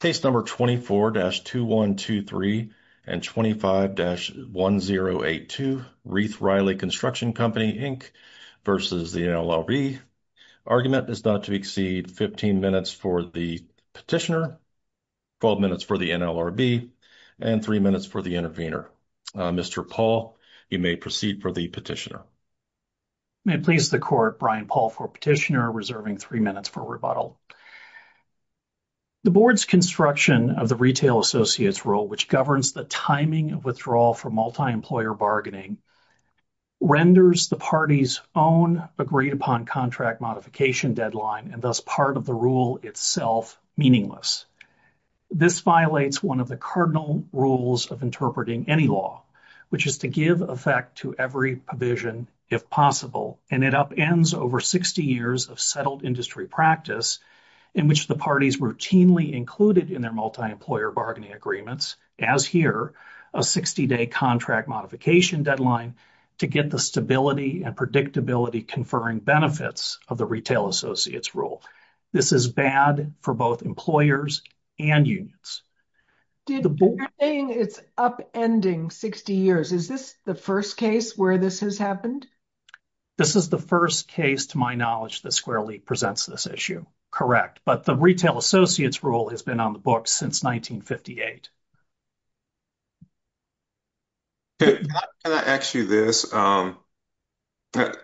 Case number 24-2123 and 25-1082, Rieth-Riley Construction Co Inc v. NLRB. Argument is not to exceed 15 minutes for the petitioner, 12 minutes for the NLRB, and 3 minutes for the intervener. Mr. Paul, you may proceed for the petitioner. May it please the court, Brian Paul for petitioner, reserving 3 minutes for rebuttal. The board's construction of the Retail Associates Rule, which governs the timing of withdrawal from multi-employer bargaining, renders the party's own agreed-upon contract modification deadline, and thus part of the rule itself, meaningless. This violates one of the cardinal rules of interpreting any law, which is to give effect to every provision if possible, and it upends over 60 years of settled industry practice in which the parties routinely included in their multi-employer bargaining agreements, as here, a 60-day contract modification deadline to get the stability and predictability-conferring benefits of the Retail Associates Rule. This is bad for both employers and unions. You're saying it's upending 60 years. Is this the first case where this has happened? This is the first case, to my knowledge, that Squarely presents this issue. Correct, but the Retail Associates Rule has been on the books since 1958. Can I ask you this? You know,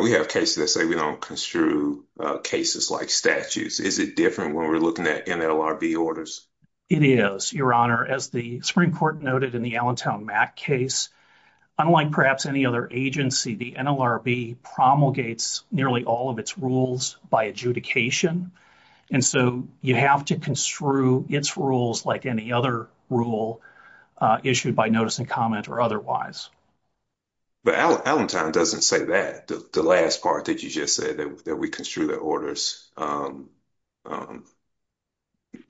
we have cases that say we don't construe cases like statutes. Is it different when we're looking at NLRB orders? It is, Your Honor. As the Supreme Court noted in the Allentown Mack case, unlike perhaps any other agency, the NLRB promulgates nearly all of its rules by adjudication. And so you have to construe its rules like any other rule issued by notice and comment or otherwise. But Allentown doesn't say that. The last part that you just said, that we construe the orders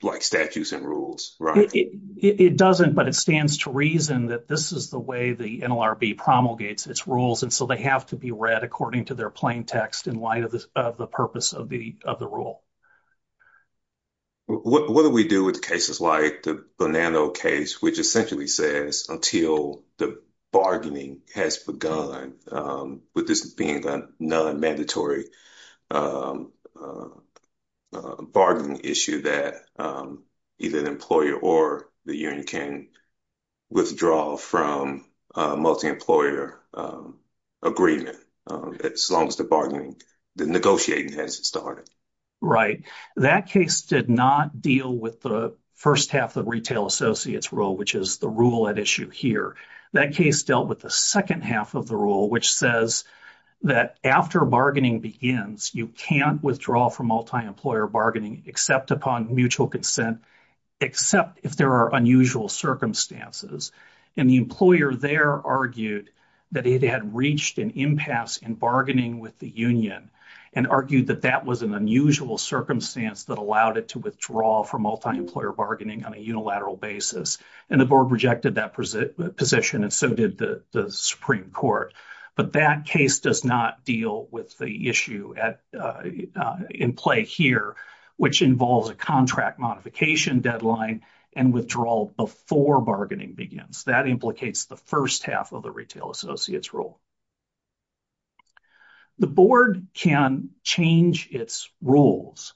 like statutes and rules, right? It doesn't, but it stands to reason that this is the way the NLRB promulgates its rules, and so they have to be read according to their plain text in light of the purpose of the rule. What do we do with the cases like the Bonanno case, which essentially says, until the bargaining has begun, with this being a non-mandatory bargaining issue that either the employer or the union can withdraw from a multi-employer agreement, as long as the bargaining, the negotiating hasn't started? Right. That case did not deal with the first half of the retail associates rule, which is the rule at issue here. That case dealt with the second half of the rule, which says that after bargaining begins, you can't withdraw from multi-employer bargaining except upon mutual consent, except if there are unusual circumstances. And the employer there argued that it had reached an impasse in bargaining with the union, and argued that that was an unusual circumstance that allowed it to withdraw from multi-employer bargaining on a unilateral basis. And the board rejected that position, and so did the Supreme Court. But that case does not deal with the issue in play here, which involves a contract modification deadline and withdrawal before bargaining begins. That implicates the first half of the retail associates rule. The board can change its rules,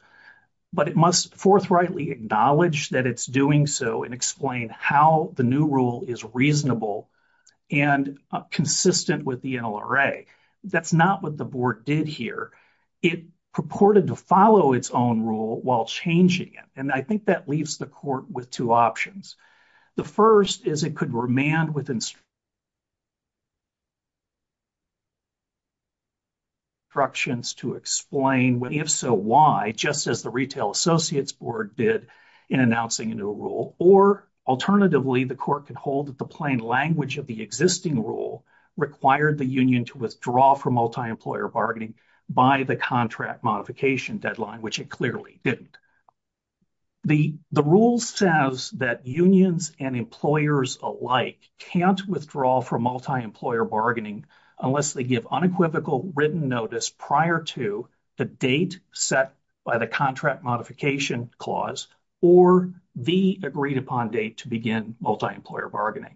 but it must forthrightly acknowledge that it's doing so, and explain how the new rule is reasonable and consistent with the NLRA. That's not what the board did here. It purported to follow its own rule while changing it, and I think that leaves the court with two options. The first is it could remand with instructions to explain, if so, why, just as the retail associates board did in announcing a new rule. Or, alternatively, the court could hold that the plain language of the existing rule required the union to withdraw from multi-employer bargaining by the contract modification deadline, which it clearly didn't. The rule says that unions and employers alike can't withdraw from multi-employer bargaining unless they give unequivocal written notice prior to the date set by the contract modification clause, or the agreed-upon date to begin multi-employer bargaining.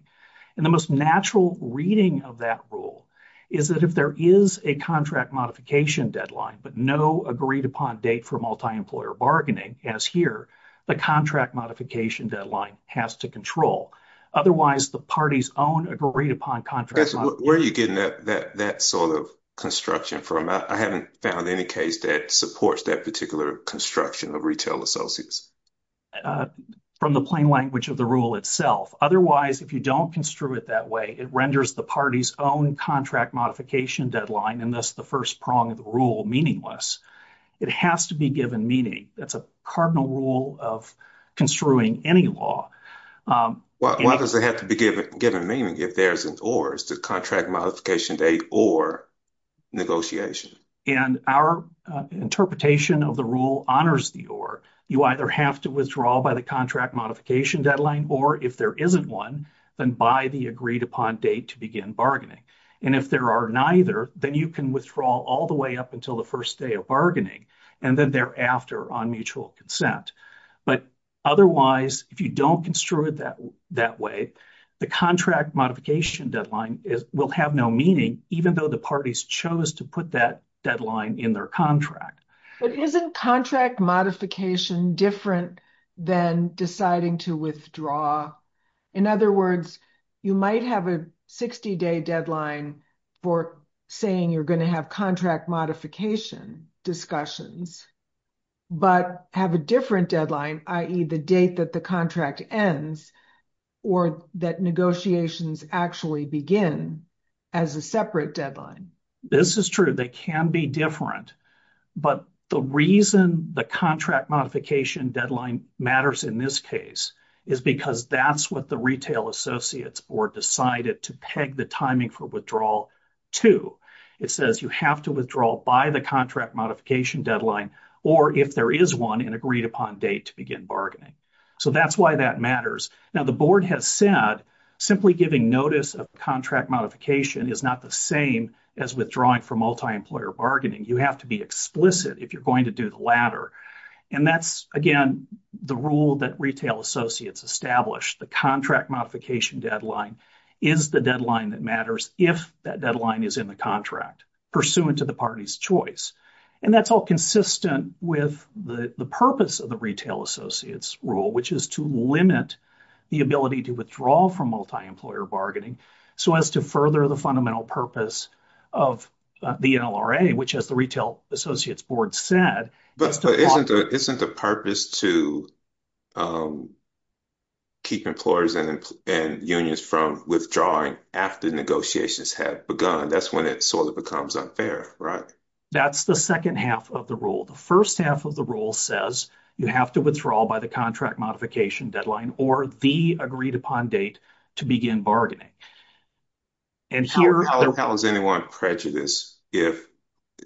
And the most natural reading of that rule is that if there is a contract modification deadline, but no agreed-upon date for multi-employer bargaining, as here, the contract modification deadline has to control. Otherwise, the party's own agreed-upon contract— Where are you getting that sort of construction from? I haven't found any case that supports that particular construction of retail associates. From the plain language of the rule itself. Otherwise, if you don't construe it that way, it renders the party's own contract modification deadline, and thus the first prong of the rule, meaningless. It has to be given meaning. That's a cardinal rule of construing any law. Why does it have to be given meaning if there's an or? Is the contract modification date or negotiation? And our interpretation of the rule honors the or. You either have to withdraw by the contract modification deadline, or if there isn't one, then by the agreed-upon date to begin bargaining. And if there are neither, then you can withdraw all the way up until the first day of bargaining, and then thereafter on mutual consent. But otherwise, if you don't construe it that way, the contract modification deadline will have no meaning, even though the parties chose to put that deadline in their contract. But isn't contract modification different than deciding to withdraw? In other words, you might have a 60-day deadline for saying you're going to have contract modification discussions, but have a different deadline, i.e., the date that the contract ends, or that negotiations actually begin as a separate deadline. This is true. They can be different. But the reason the contract modification deadline matters in this case is because that's what the Retail Associates Board decided to peg the timing for withdrawal to. It says you have to withdraw by the contract modification deadline, or if there is one, an agreed-upon date to begin bargaining. So that's why that matters. Now, the Board has said simply giving notice of contract modification is not the same as withdrawing from multi-employer bargaining. You have to be explicit if you're going to do the latter. And that's, again, the rule that Retail Associates established. The contract modification deadline is the deadline that matters if that deadline is in the contract, pursuant to the party's choice. And that's all consistent with the purpose of the Retail Associates rule, which is to limit the ability to withdraw from multi-employer bargaining, so as to further the fundamental purpose of the NLRA, which, as the Retail Associates Board said, But isn't the purpose to keep employers and unions from withdrawing after negotiations have begun? That's when it sort of becomes unfair, right? That's the second half of the rule. The first half of the rule says you have to withdraw by the contract modification deadline, or the agreed-upon date to begin bargaining. How is anyone prejudiced if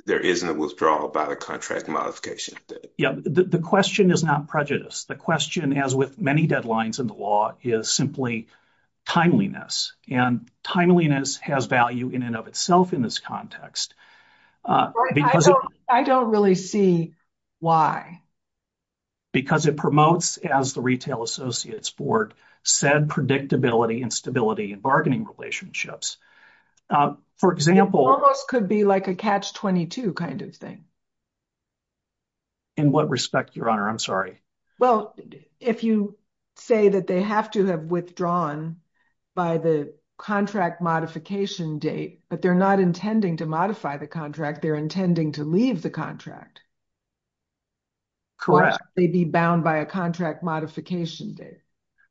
there isn't a withdrawal by the contract modification date? Yeah, the question is not prejudice. The question, as with many deadlines in the law, is simply timeliness. And timeliness has value in and of itself in this context. I don't really see why. Because it promotes, as the Retail Associates Board said, predictability and stability in bargaining relationships. It almost could be like a catch-22 kind of thing. In what respect, Your Honor? I'm sorry. Well, if you say that they have to have withdrawn by the contract modification date, but they're not intending to modify the contract. They're intending to leave the contract. Correct. Or should they be bound by a contract modification date?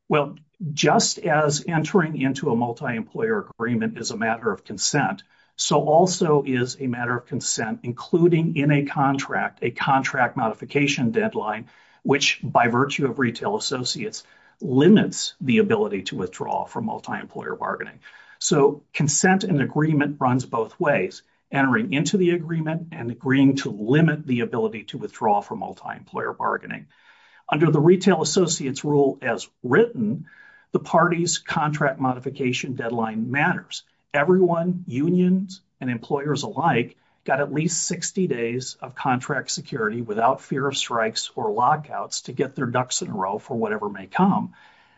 Well, just as entering into a multi-employer agreement is a matter of consent, so also is a matter of consent, including in a contract, a contract modification deadline, which, by virtue of Retail Associates, limits the ability to withdraw from multi-employer bargaining. So consent and agreement runs both ways, entering into the agreement and agreeing to limit the ability to withdraw from multi-employer bargaining. Under the Retail Associates rule as written, the party's contract modification deadline matters. Everyone, unions and employers alike, got at least 60 days of contract security without fear of strikes or lockouts to get their ducks in a row for whatever may come.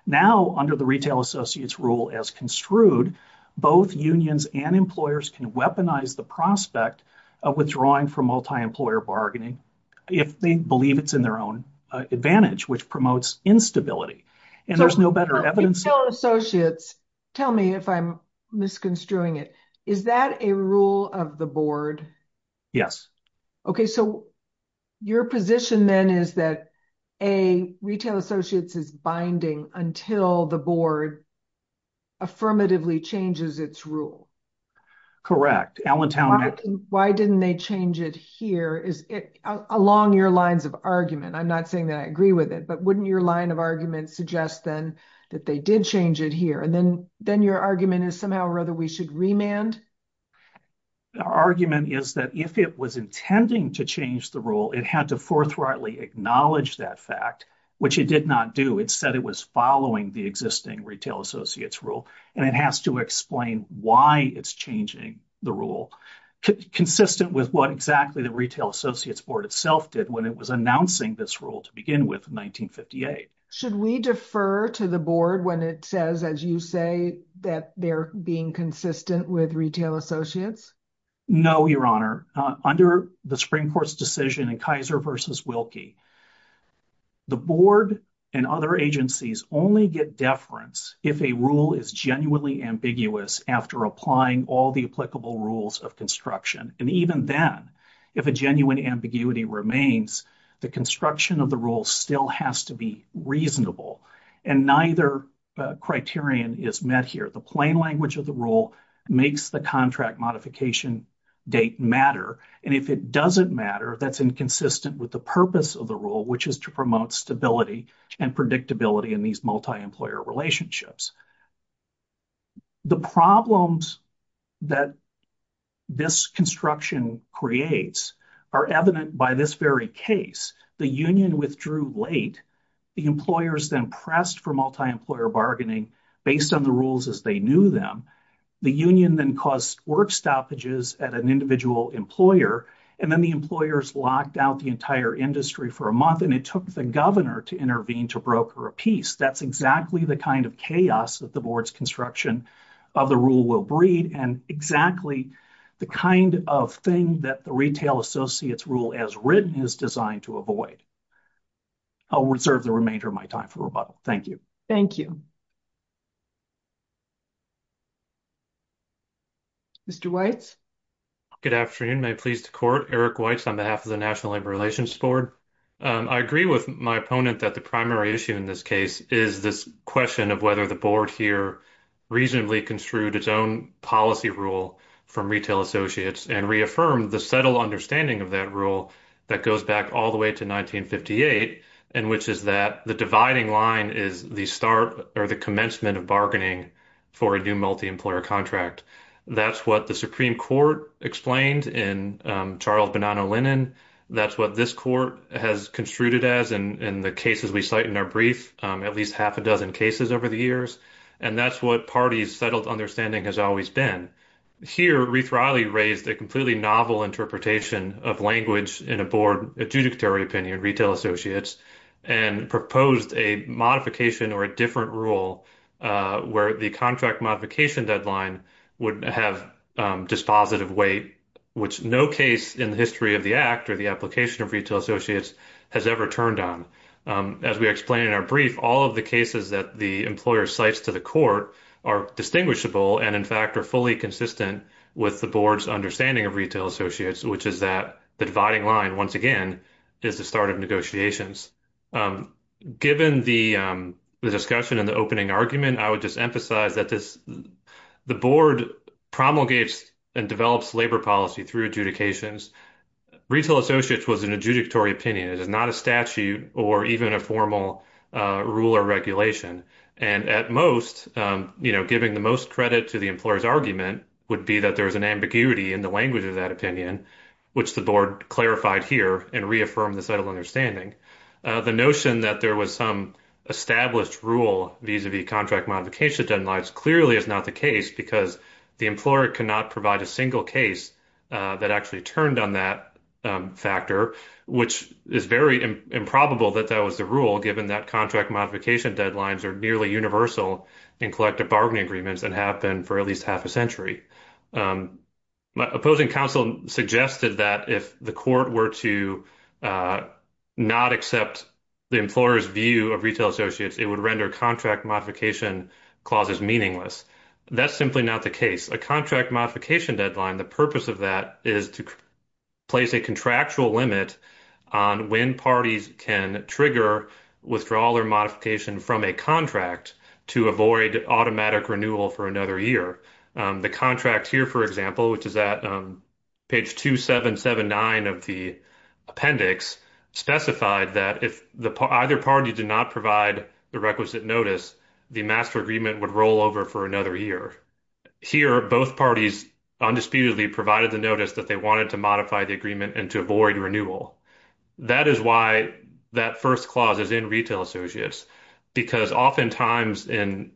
Now, under the Retail Associates rule as construed, both unions and employers can weaponize the prospect of withdrawing from multi-employer bargaining if they believe it's in their own advantage, which promotes instability. And there's no better evidence... Retail Associates, tell me if I'm misconstruing it, is that a rule of the board? Yes. Okay, so your position then is that, A, Retail Associates is binding until the board affirmatively changes its rule. Correct. Allentown... Why didn't they change it here? Along your lines of argument, I'm not saying that I agree with it, but wouldn't your line of argument suggest then that they did change it here? And then your argument is somehow or other we should remand? Our argument is that if it was intending to change the rule, it had to forthrightly acknowledge that fact, which it did not do. It said it was following the existing Retail Associates rule, and it has to explain why it's changing the rule, consistent with what exactly the Retail Associates board itself did when it was announcing this rule to begin with in 1958. Should we defer to the board when it says, as you say, that they're being consistent with Retail Associates? No, Your Honor. Under the Supreme Court's decision in Kaiser v. Wilkie, the board and other agencies only get deference if a rule is genuinely ambiguous after applying all the applicable rules of construction. And even then, if a genuine ambiguity remains, the construction of the rule still has to be reasonable. And neither criterion is met here. The plain language of the rule makes the contract modification date matter. And if it doesn't matter, that's inconsistent with the purpose of the rule, which is to promote stability and predictability in these multi-employer relationships. The problems that this construction creates are evident by this very case. The union withdrew late. The employers then pressed for multi-employer bargaining based on the rules as they knew them. The union then caused work stoppages at an individual employer. And then the employers locked out the entire industry for a month, and it took the governor to intervene to broker a piece. That's exactly the kind of chaos that the board's construction of the rule will breed, and exactly the kind of thing that the Retail Associates rule as written is designed to avoid. I'll reserve the remainder of my time for rebuttal. Thank you. Thank you. Mr. Weitz? Good afternoon. May it please the Court? Eric Weitz on behalf of the National Labor Relations Board. I agree with my opponent that the primary issue in this case is this question of whether the board here reasonably construed its own policy rule from Retail Associates and reaffirmed the subtle understanding of that rule that goes back all the way to 1958, and which is that the dividing line is the start or the commencement of bargaining for a new multi-employer contract. That's what the Supreme Court explained in Charles Bonanno-Lennon. That's what this Court has construed it as in the cases we cite in our brief, at least half a dozen cases over the years. And that's what parties' subtle understanding has always been. Here, Ruth Riley raised a completely novel interpretation of language in a board adjudicatory opinion, Retail Associates, and proposed a modification or a different rule where the contract modification deadline would have dispositive weight, which no case in the history of the Act or the application of Retail Associates has ever turned on. As we explained in our brief, all of the cases that the employer cites to the Court are distinguishable, and in fact are fully consistent with the board's understanding of Retail Associates, which is that the dividing line, once again, is the start of negotiations. Given the discussion in the opening argument, I would just emphasize that the board promulgates and develops labor policy through adjudications. Retail Associates was an adjudicatory opinion. It is not a statute or even a formal rule or regulation. And at most, giving the most credit to the employer's argument would be that there is an ambiguity in the language of that opinion, which the board clarified here and reaffirmed the subtle understanding. The notion that there was some established rule vis-a-vis contract modification deadlines clearly is not the case, because the employer cannot provide a single case that actually turned on that factor, which is very improbable that that was the rule, given that contract modification deadlines are nearly universal in collective bargaining agreements and have been for at least half a century. My opposing counsel suggested that if the Court were to not accept the employer's view of Retail Associates, it would render contract modification clauses meaningless. That's simply not the case. A contract modification deadline, the purpose of that is to place a contractual limit on when parties can trigger withdrawal or modification from a contract to avoid automatic renewal for another year. The contract here, for example, which is at page 2779 of the appendix, specified that if either party did not provide the requisite notice, the master agreement would roll over for another year. Here, both parties undisputedly provided the notice that they wanted to modify the agreement and to avoid renewal. That is why that first clause is in Retail Associates, because oftentimes,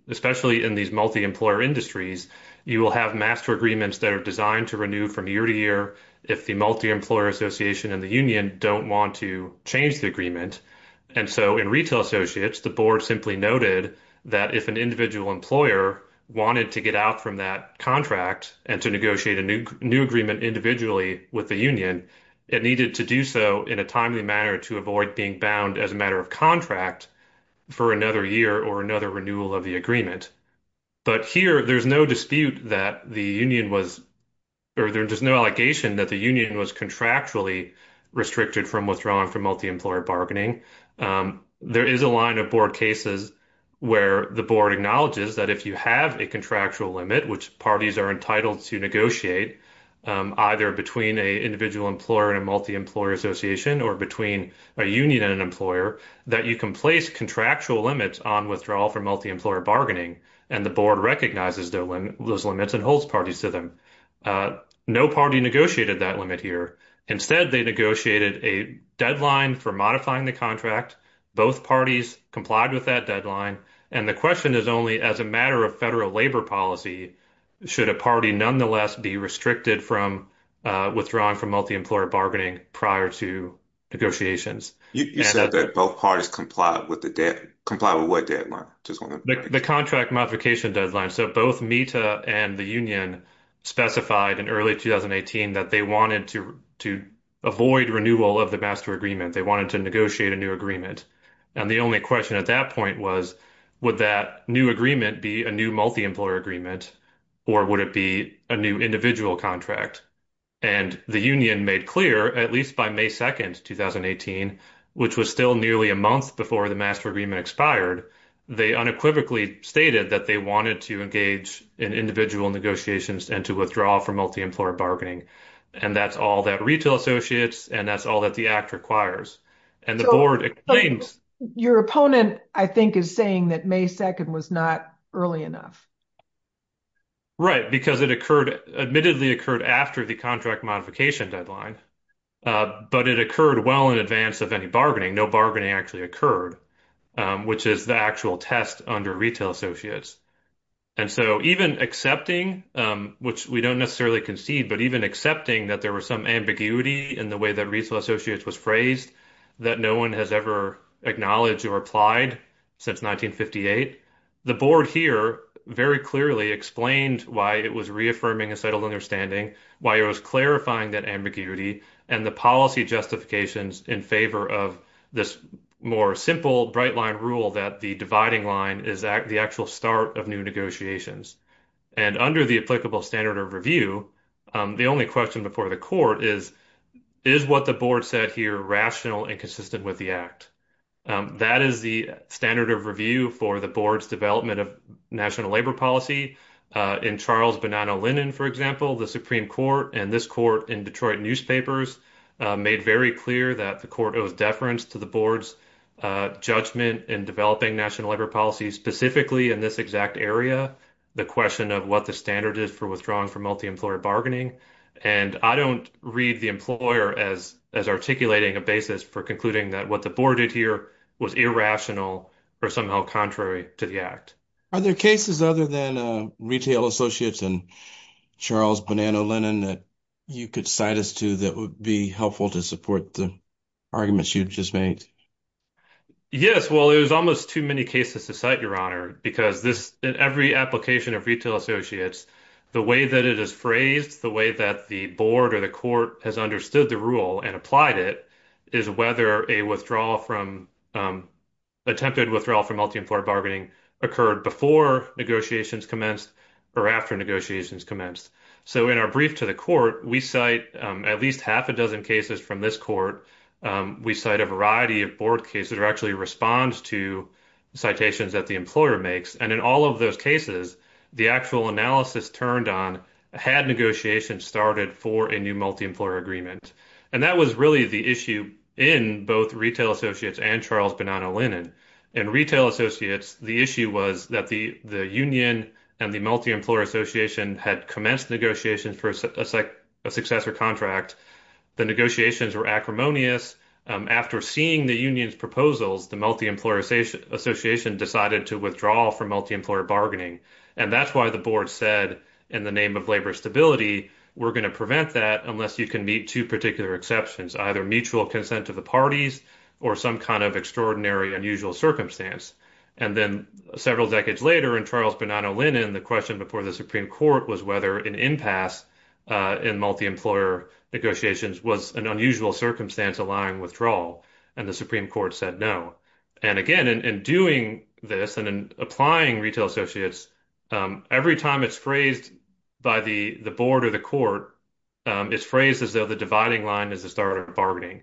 especially in these multi-employer industries, you will have master agreements that are designed to renew from year to year if the multi-employer association and the union don't want to change the agreement. In Retail Associates, the board simply noted that if an individual employer wanted to get out from that contract and to negotiate a new agreement individually with the union, it needed to do so in a timely manner to avoid being bound as a matter of contract for another year or another renewal of the agreement. Here, there's no dispute that the union was, or there's no allegation that the union was contractually restricted from withdrawing from multi-employer bargaining. There is a line of board cases where the board acknowledges that if you have a contractual limit, which parties are entitled to negotiate, either between an individual employer and a multi-employer association, or between a union and an employer, that you can place contractual limits on withdrawal from multi-employer bargaining, and the board recognizes those limits and holds parties to them. No party negotiated that limit here. Instead, they negotiated a deadline for modifying the contract. Both parties complied with that deadline, and the question is only, as a matter of federal labor policy, should a party nonetheless be restricted from withdrawing from multi-employer bargaining prior to negotiations? You said that both parties complied with the deadline. Complied with what deadline? The contract modification deadline. Both MITA and the union specified in early 2018 that they wanted to avoid renewal of the master agreement. They wanted to negotiate a new agreement. The only question at that point was, would that new agreement be a new multi-employer agreement, or would it be a new individual contract? The union made clear, at least by May 2, 2018, which was still nearly a month before the master agreement expired, they unequivocally stated that they wanted to engage in individual negotiations and to withdraw from multi-employer bargaining. That's all that Retail Associates and that's all that the Act requires. Your opponent, I think, is saying that May 2 was not early enough. Right, because it admittedly occurred after the contract modification deadline, but it occurred well in advance of any bargaining. No bargaining actually occurred, which is the actual test under Retail Associates. And so even accepting, which we don't necessarily concede, but even accepting that there was some ambiguity in the way that Retail Associates was phrased that no one has ever acknowledged or applied since 1958, the board here very clearly explained why it was reaffirming a settled understanding, why it was clarifying that ambiguity, and the policy justifications in favor of this more simple bright line rule that the dividing line is the actual start of new negotiations. And under the applicable standard of review, the only question before the court is, is what the board said here rational and consistent with the Act? That is the standard of review for the board's development of national labor policy. In Charles Bonanno Lennon, for example, the Supreme Court, and this court in Detroit newspapers made very clear that the court owes deference to the board's judgment in developing national labor policy, specifically in this exact area, the question of what the standard is for withdrawing from multi-employer bargaining. And I don't read the employer as articulating a basis for concluding that what the board did here was irrational or somehow contrary to the Act. Are there cases other than Retail Associates and Charles Bonanno Lennon that you could cite us to that would be helpful to support the arguments you've just made? Yes, well, there's almost too many cases to cite, Your Honor, because in every application of Retail Associates, the way that it is phrased, the way that the board or the court has understood the rule and applied it, is whether an attempted withdrawal from multi-employer bargaining occurred before negotiations commenced or after negotiations commenced. So in our brief to the court, we cite at least half a dozen cases from this court. We cite a variety of board cases that actually respond to citations that the employer makes. And in all of those cases, the actual analysis turned on, had negotiations started for a new multi-employer agreement. And that was really the issue in both Retail Associates and Charles Bonanno Lennon. In Retail Associates, the issue was that the union and the multi-employer association had commenced negotiations for a successor contract. The negotiations were acrimonious. After seeing the union's proposals, the multi-employer association decided to withdraw from multi-employer bargaining. And that's why the board said, in the name of labor stability, we're going to prevent that unless you can meet two particular exceptions, either mutual consent of the parties or some kind of extraordinary unusual circumstance. And then several decades later in Charles Bonanno Lennon, the question before the Supreme Court was whether an impasse in multi-employer negotiations was an unusual circumstance allowing withdrawal. And the Supreme Court said no. And again, in doing this and in applying Retail Associates, every time it's phrased by the board or the court, it's phrased as though the dividing line is the start of bargaining.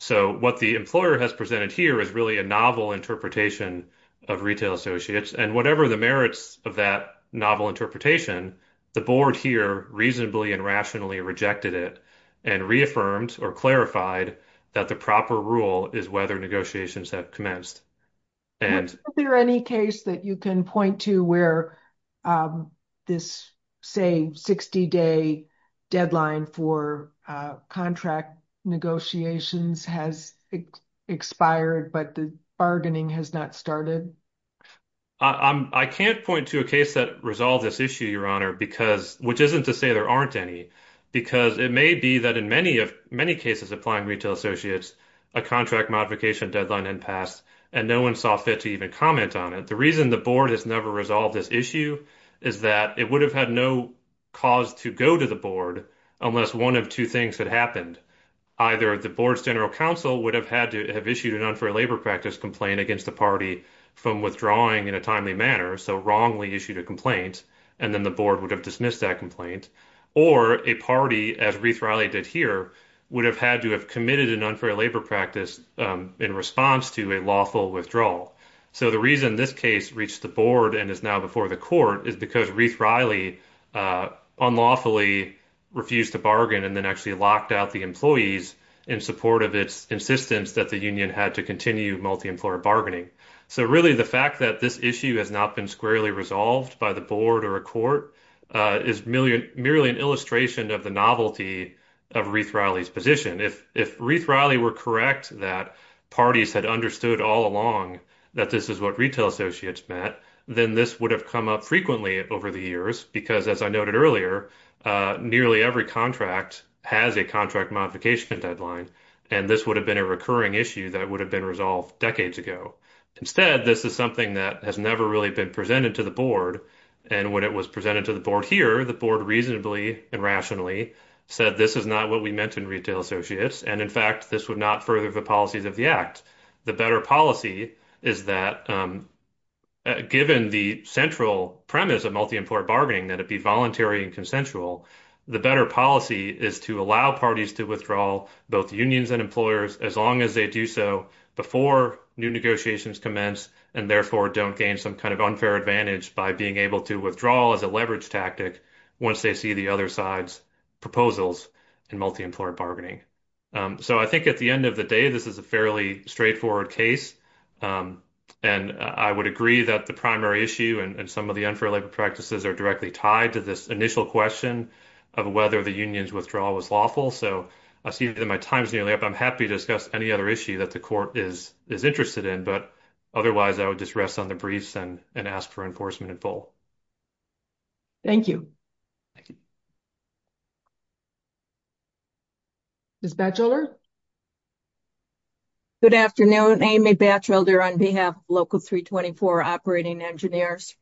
So what the employer has presented here is really a novel interpretation of Retail Associates. And whatever the merits of that novel interpretation, the board here reasonably and rationally rejected it and reaffirmed or clarified that the proper rule is whether negotiations have commenced. Is there any case that you can point to where this, say, 60-day deadline for contract negotiations has expired but the bargaining has not started? I can't point to a case that resolved this issue, Your Honor, which isn't to say there aren't any, because it may be that in many cases applying Retail Associates, a contract modification deadline had passed and no one saw fit to even comment on it. The reason the board has never resolved this issue is that it would have had no cause to go to the board unless one of two things had happened. Either the board's general counsel would have had to have issued an unfair labor practice complaint against the party from withdrawing in a timely manner, so wrongly issued a complaint, and then the board would have dismissed that complaint. Or a party, as Reith Riley did here, would have had to have committed an unfair labor practice in response to a lawful withdrawal. So the reason this case reached the board and is now before the court is because Reith Riley unlawfully refused to bargain and then actually locked out the employees in support of its insistence that the union had to continue multi-employer bargaining. So really the fact that this issue has not been squarely resolved by the board or a court is merely an illustration of the novelty of Reith Riley's position. If Reith Riley were correct that parties had understood all along that this is what Retail Associates meant, then this would have come up frequently over the years because, as I noted earlier, nearly every contract has a contract modification deadline, and this would have been a recurring issue that would have been resolved decades ago. Instead, this is something that has never really been presented to the board, and when it was presented to the board here, the board reasonably and rationally said, this is not what we meant in Retail Associates, and in fact, this would not further the policies of the Act. The better policy is that, given the central premise of multi-employer bargaining, that it be voluntary and consensual, the better policy is to allow parties to withdraw both unions and employers as long as they do so before new negotiations commence, and therefore don't gain some kind of unfair advantage by being able to withdraw as a leverage tactic once they see the other side's proposals in multi-employer bargaining. I think at the end of the day, this is a fairly straightforward case, and I would agree that the primary issue and some of the unfair labor practices are directly tied to this initial question of whether the union's withdrawal was lawful. I see that my time is nearly up. I'm happy to discuss any other issue that the court is interested in, but otherwise, I would just rest on the briefs and ask for enforcement in full. Thank you. Ms. Batchelder? Good afternoon. Amy Batchelder on behalf of Local 324 Operating Engineers.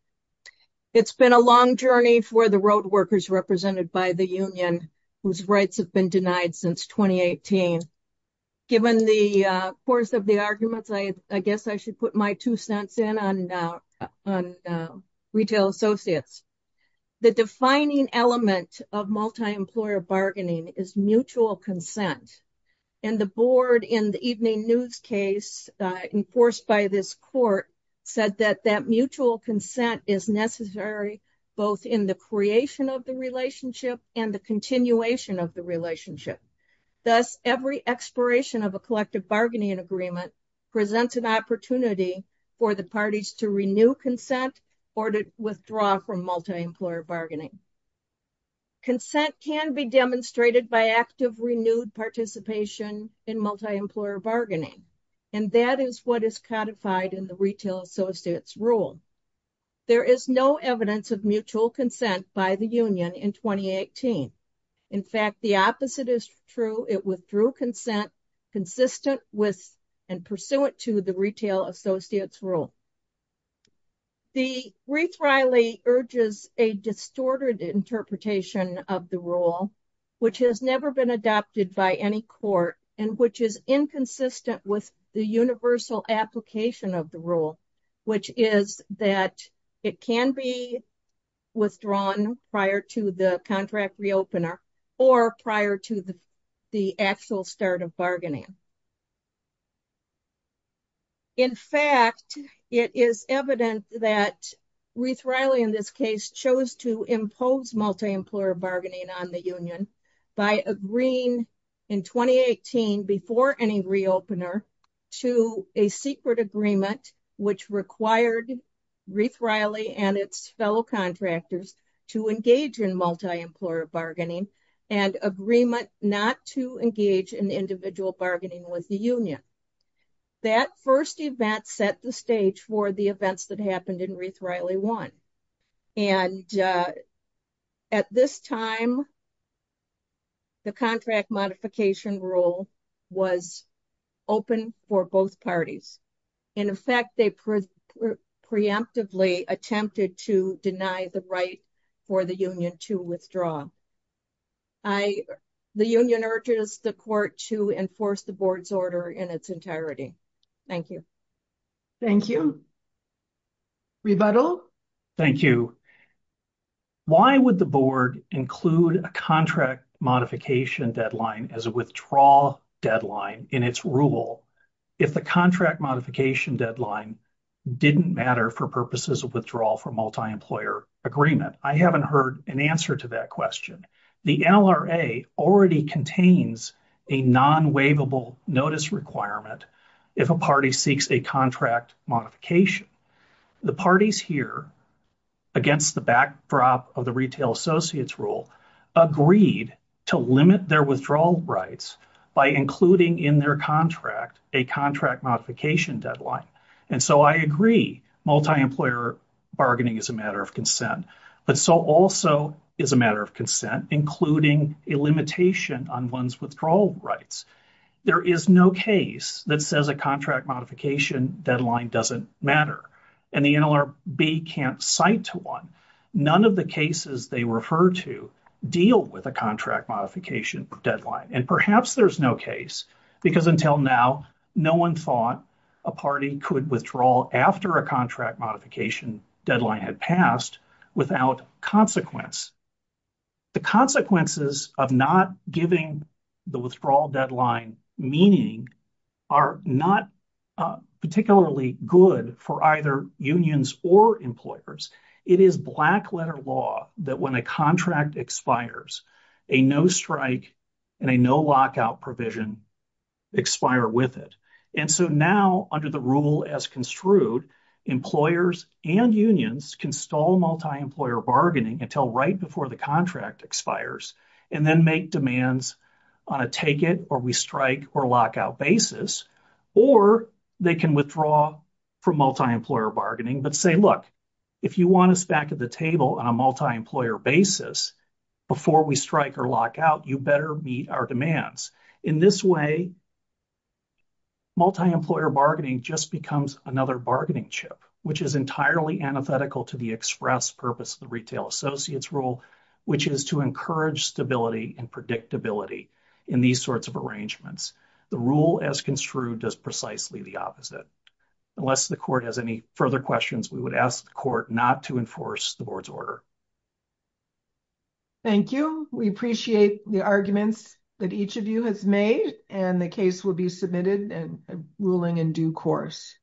It's been a long journey for the road workers represented by the union, whose rights have been denied since 2018. Given the course of the arguments, I guess I should put my two cents in on retail associates. The defining element of multi-employer bargaining is mutual consent, and the board in the evening news case enforced by this court said that that mutual consent is necessary both in the creation of the relationship and the continuation of the relationship. Thus, every expiration of a collective bargaining agreement presents an opportunity for the parties to renew consent or to withdraw from multi-employer bargaining. Consent can be demonstrated by active renewed participation in multi-employer bargaining, and that is what is codified in the retail associates rule. There is no evidence of mutual consent by the union in 2018. In fact, the opposite is true. It withdrew consent consistent with and pursuant to the retail associates rule. The wreath riley urges a distorted interpretation of the rule, which has never been adopted by any court, and which is inconsistent with the universal application of the rule, which is that it can be withdrawn prior to the contract reopener or prior to the actual start of bargaining. In fact, it is evident that wreath riley in this case chose to impose multi-employer bargaining on the union by agreeing in 2018 before any reopener to a secret agreement, which required wreath riley and its fellow contractors to engage in multi-employer bargaining, and agreement not to engage in individual bargaining with the union. That first event set the stage for the events that happened in wreath riley one. And at this time, the contract modification rule was open for both parties. In fact, they preemptively attempted to deny the right for the union to withdraw. The union urges the court to enforce the board's order in its entirety. Thank you. Thank you. Rebuttal? Thank you. Why would the board include a contract modification deadline as a withdrawal deadline in its rule if the contract modification deadline didn't matter for purposes of withdrawal from multi-employer agreement? I haven't heard an answer to that question. The LRA already contains a non-waivable notice requirement if a party seeks a contract modification. The parties here, against the backdrop of the retail associates rule, agreed to limit their withdrawal rights by including in their contract a contract modification deadline. And so I agree multi-employer bargaining is a matter of consent. But so also is a matter of consent, including a limitation on one's withdrawal rights. There is no case that says a contract modification deadline doesn't matter. And the NLRB can't cite to one. None of the cases they refer to deal with a contract modification deadline. And perhaps there's no case because until now, no one thought a party could withdraw after a contract modification deadline had passed without consequence. The consequences of not giving the withdrawal deadline meaning are not particularly good for either unions or employers. It is black-letter law that when a contract expires, a no-strike and a no-lockout provision expire with it. And so now, under the rule as construed, employers and unions can stall multi-employer bargaining until right before the contract expires and then make demands on a take-it-or-we-strike-or-lockout basis. Or they can withdraw from multi-employer bargaining but say, look, if you want us back at the table on a multi-employer basis before we strike or lockout, you better meet our demands. In this way, multi-employer bargaining just becomes another bargaining chip, which is entirely antithetical to the express purpose of the Retail Associates Rule, which is to encourage stability and predictability in these sorts of arrangements. The rule as construed does precisely the opposite. Unless the Court has any further questions, we would ask the Court not to enforce the Board's order. Thank you. We appreciate the arguments that each of you has made, and the case will be submitted in a ruling in due course.